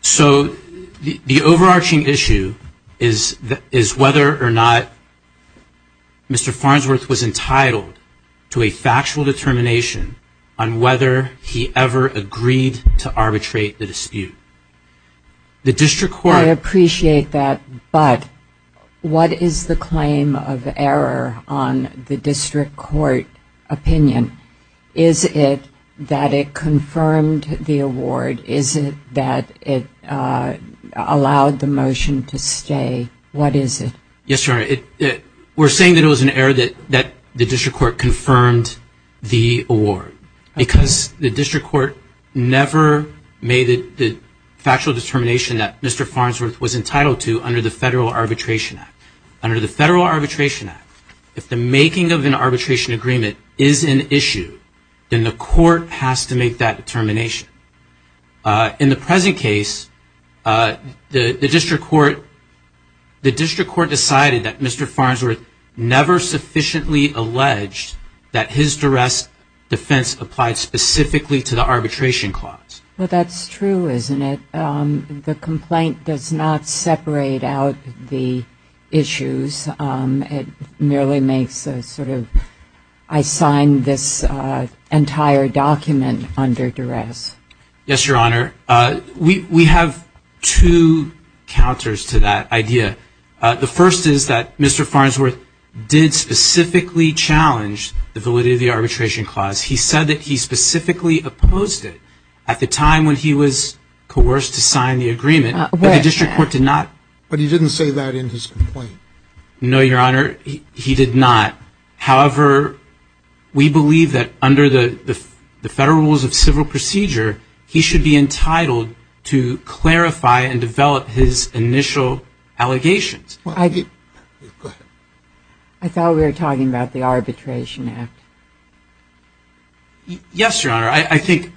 So, the overarching issue is whether or not Mr. Farnsworth was entitled to a factual determination on whether he ever agreed to arbitrate the dispute. The District Court- I appreciate that, but what is the claim of error on the District Court opinion? Is it that it confirmed the award? Is it that it allowed the motion to stay? What is it? Yes, Your Honor. We're saying that it was an error that the District Court confirmed the award because the District Court never made the factual determination that Mr. Farnsworth was entitled to under the Federal Arbitration Act. Under the Federal Arbitration Act, if the making of an arbitration agreement is an issue, then the court has to make that determination. In the present case, the District Court decided that Mr. Farnsworth never sufficiently alleged that his duress defense applied specifically to the arbitration clause. Well, that's true, isn't it? The complaint does not separate out the issues. It merely makes a sort of, I signed this entire document under duress. Yes, Your Honor. We have two counters to that idea. The first is that Mr. Farnsworth did specifically challenge the validity of the arbitration clause. He said that he specifically opposed it at the time when he was coerced to sign the agreement, but the District Court did not- No, Your Honor. He did not. However, we believe that under the Federal Rules of Civil Procedure, he should be entitled to clarify and develop his initial allegations. I thought we were talking about the Arbitration Act. Yes, Your Honor. I think,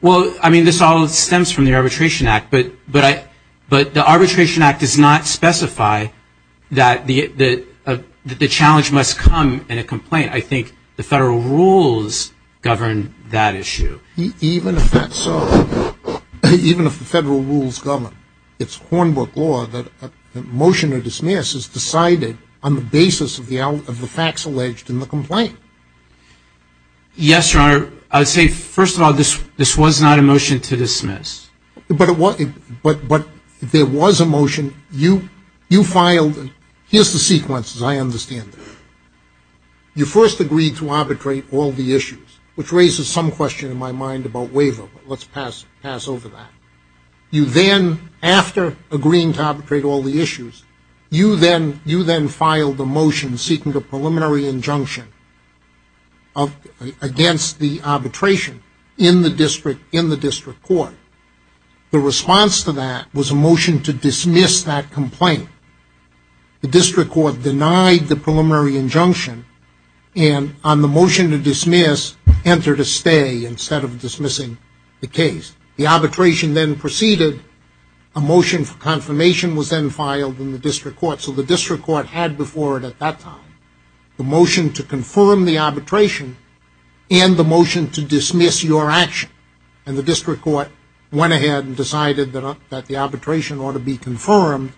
well, I mean, this all stems from the Arbitration Act, but the Arbitration Act does not specify that the challenge must come in a complaint. I think the Federal Rules govern that issue. Even if that's so, even if the Federal Rules govern, it's Hornbrook law that a motion to dismiss is decided on the basis of the facts alleged in the complaint. Yes, Your Honor. I would say, first of all, this was not a motion to dismiss. But there was a motion. You filed, here's the sequence, as I understand it. You first agreed to arbitrate all the issues, which raises some question in my mind about waiver, but let's pass over that. You then, after agreeing to arbitrate all the issues, you then filed a motion seeking a preliminary injunction against the arbitration in the district court. The response to that was a motion to dismiss that complaint. The district court denied the preliminary injunction and on the motion to dismiss, entered a stay instead of dismissing the case. The arbitration then proceeded, a motion for confirmation was then filed in the district court. So the district court had before it at that time the motion to confirm the arbitration and the motion to dismiss your action. And the district court went ahead and decided that the arbitration ought to be confirmed,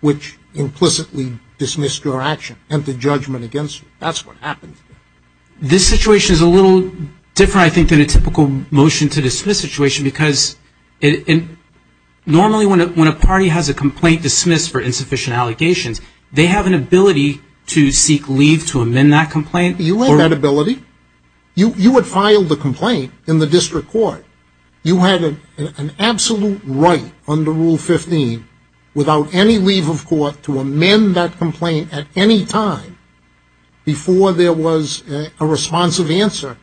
which implicitly dismissed your action and the judgment against you. That's what happened. This situation is a little different, I think, than a typical motion to dismiss situation because normally when a party has a complaint dismissed for insufficient allegations, they have an ability to seek leave to amend that complaint. You had that ability. You would file the complaint in the district court. You had an absolute right under Rule 15 without any leave of court to amend that complaint at any time before there was a responsive answer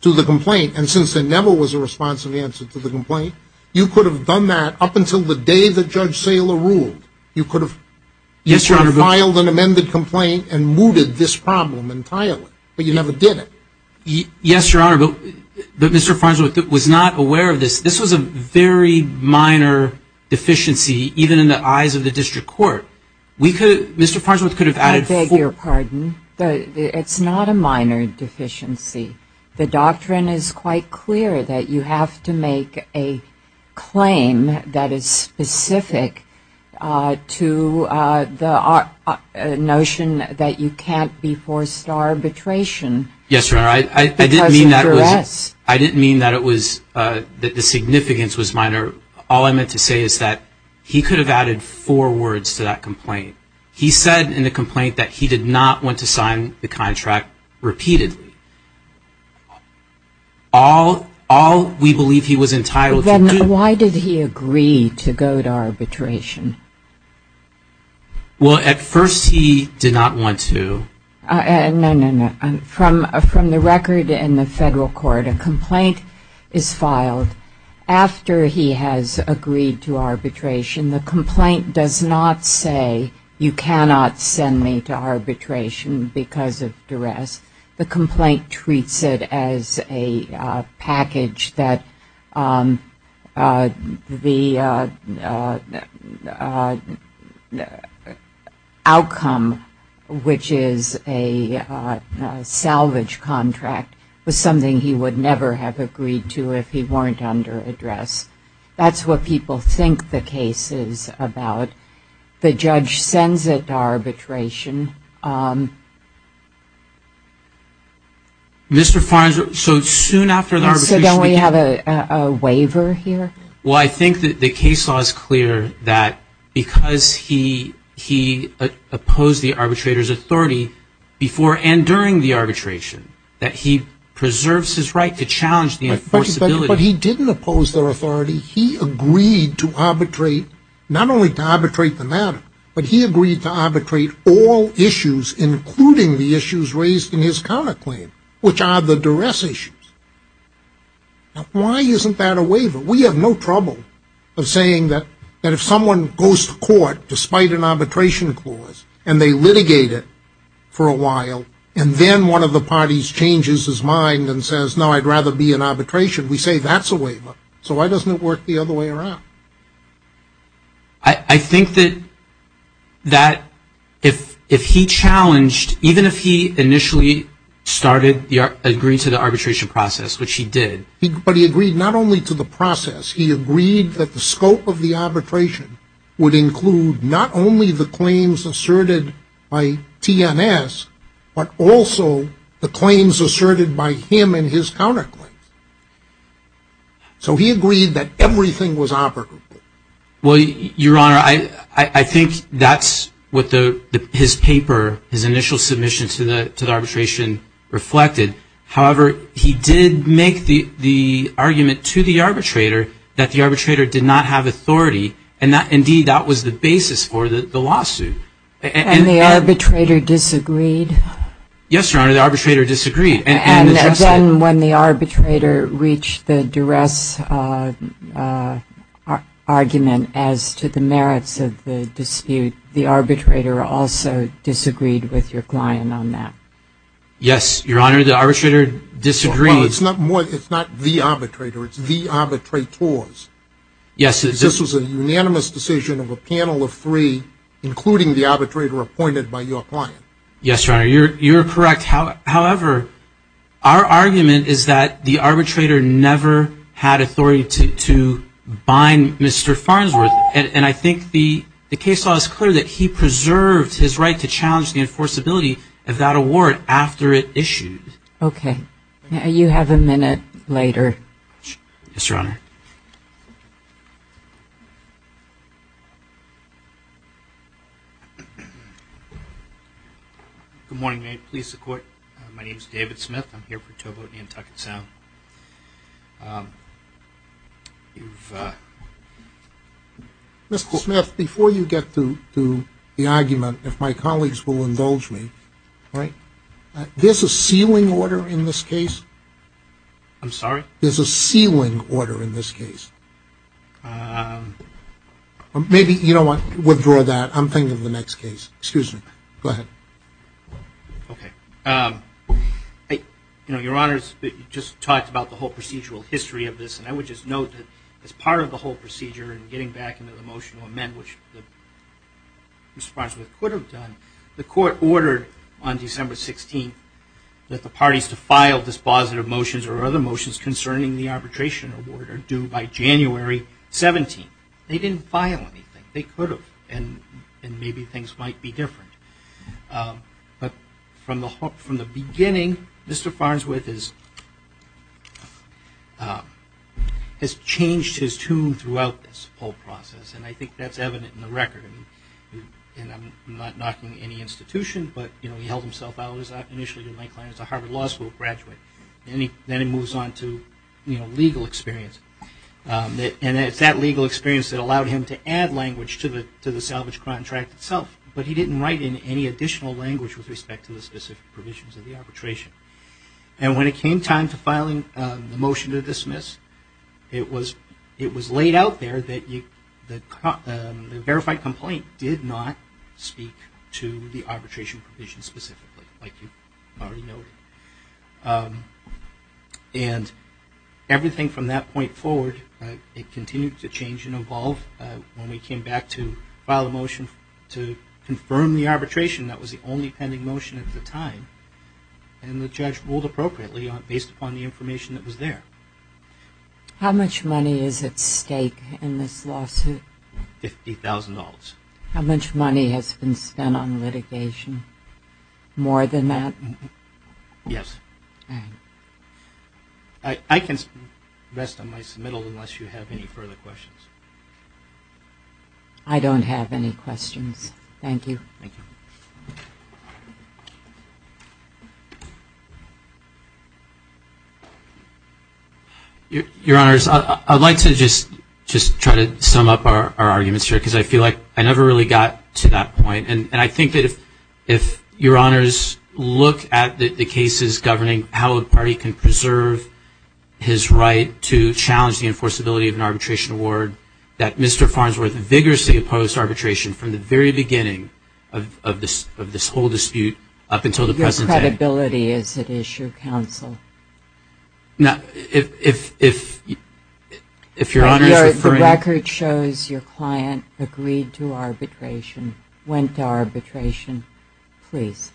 to the complaint. And since there never was a responsive answer to the complaint, you could have done that up until the day that Judge Saylor ruled. You could have filed an amended complaint and mooted this problem entirely, but you never did it. Yes, Your Honor, but Mr. Farnsworth was not aware of this. This was a very minor deficiency, even in the eyes of the district court. We could, Mr. Farnsworth could have added four. I beg your pardon, but it's not a minor deficiency. The doctrine is quite clear that you have to make a claim that is specific to the notion that you can't be forced to arbitration because of duress. I didn't mean that the significance was minor. All I meant to say is that he could have added four words to that complaint. He said in the complaint that he did not want to sign the contract repeatedly. All we believe he was entitled to do. Why did he agree to go to arbitration? Well, at first he did not want to. No, no, no. From the record in the federal court, a complaint is filed after he has agreed to arbitration. The complaint does not say you cannot send me to arbitration because of duress. The complaint treats it as a package that the outcome, which is a salvage contract, was something he would never have agreed to if he weren't under duress. That's what people think the case is about. The judge sends it to arbitration. Mr. Farnsworth, so soon after the arbitration. So don't we have a waiver here? Well, I think that the case law is clear that because he opposed the arbitrator's authority before and during the arbitration, that he preserves his right to challenge the enforceability. But he didn't oppose their authority. He agreed to arbitrate, not only to arbitrate the matter, but he agreed to arbitrate all issues, including the issues raised in his counterclaim, which are the duress issues. Why isn't that a waiver? We have no trouble of saying that if someone goes to court despite an arbitration clause and they litigate it for a while and then one of the parties changes his mind and says, no, I'd rather be in arbitration, we say that's a waiver. So why doesn't it work the other way around? I think that if he challenged, even if he initially agreed to the arbitration process, which he did. But he agreed not only to the process. He agreed that the scope of the arbitration would include not only the claims asserted by TNS, but also the claims asserted by him and his counterclaims. So he agreed that everything was operable. Well, Your Honor, I think that's what his paper, his initial submission to the arbitration reflected. However, he did make the argument to the arbitrator that the arbitrator did not have authority. And indeed, that was the basis for the lawsuit. And the arbitrator disagreed? Yes, Your Honor, the arbitrator disagreed. And then when the arbitrator reached the duress argument as to the merits of the dispute, the arbitrator also disagreed with your client on that? Yes, Your Honor, the arbitrator disagreed. Well, it's not the arbitrator. It's the arbitrators. Yes, this was a unanimous decision of a panel of three, including the arbitrator appointed by your client. Yes, Your Honor, you're correct. However, our argument is that the arbitrator never had authority to bind Mr. Farnsworth. And I think the case law is clear that he preserved his right to challenge the enforceability of that award after it issued. Okay. You have a minute later. Yes, Your Honor. Good morning, police and court. My name is David Smith. I'm here for Toboe, Nantucket Sound. Mr. Smith, before you get to the argument, if my colleagues will indulge me, there's a sealing order in this case. I'm sorry? There's a sealing order in this case. Maybe you don't want to withdraw that. I'm thinking of the next case. Excuse me. Go ahead. Okay. You know, Your Honor, you just talked about the whole procedural history of this. And I would just note that as part of the whole procedure and getting back into the motion to amend, which Mr. Farnsworth could have done, the court ordered on December 16th that the parties to file dispositive motions or other motions concerning the arbitration award are due by January 17th. They didn't file anything. They could have. And maybe things might be different. But from the beginning, Mr. Farnsworth has changed his tune throughout this whole process. And I think that's evident in the record. And I'm not knocking any institution. But he held himself out initially as a Harvard Law School graduate. And then he moves on to legal experience. And it's that legal experience that allowed him to add language to the salvage contract itself. But he didn't write in any additional language with respect to the specific provisions of the arbitration. And when it came time to filing the motion to dismiss, it was laid out there that the arbitration provision specifically, like you already noted. And everything from that point forward, it continued to change and evolve. When we came back to file a motion to confirm the arbitration, that was the only pending motion at the time. And the judge ruled appropriately based upon the information that was there. How much money is at stake in this lawsuit? $50,000. How much money has been spent on litigation? More than that? Yes. I can rest on my submittal unless you have any further questions. I don't have any questions. Thank you. Your Honors, I'd like to just try to sum up our arguments here. I never really got to that point. And I think that if Your Honors look at the cases governing how a party can preserve his right to challenge the enforceability of an arbitration award, that Mr. Farnsworth vigorously opposed arbitration from the very beginning of this whole dispute up until the present Your credibility is at issue, counsel. Now, if Your Honors are referring The record shows your client agreed to arbitration, went to arbitration, please.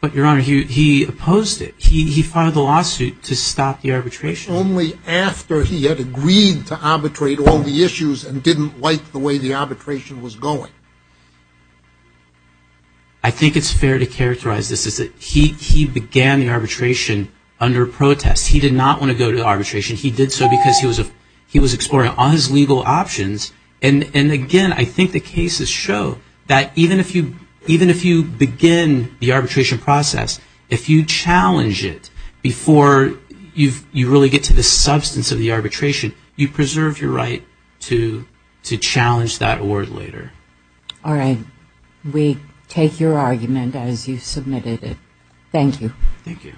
But Your Honor, he opposed it. He filed a lawsuit to stop the arbitration. Only after he had agreed to arbitrate all the issues and didn't like the way the arbitration was going. I think it's fair to characterize this as that he began the arbitration under protest. He did not want to go to arbitration. He did so because he was exploring all his legal options. And again, I think the cases show that even if you begin the arbitration process, if you challenge it before you really get to the substance of the arbitration, you preserve your right to challenge that award later. All right. We take your argument as you submitted it. Thank you. Thank you.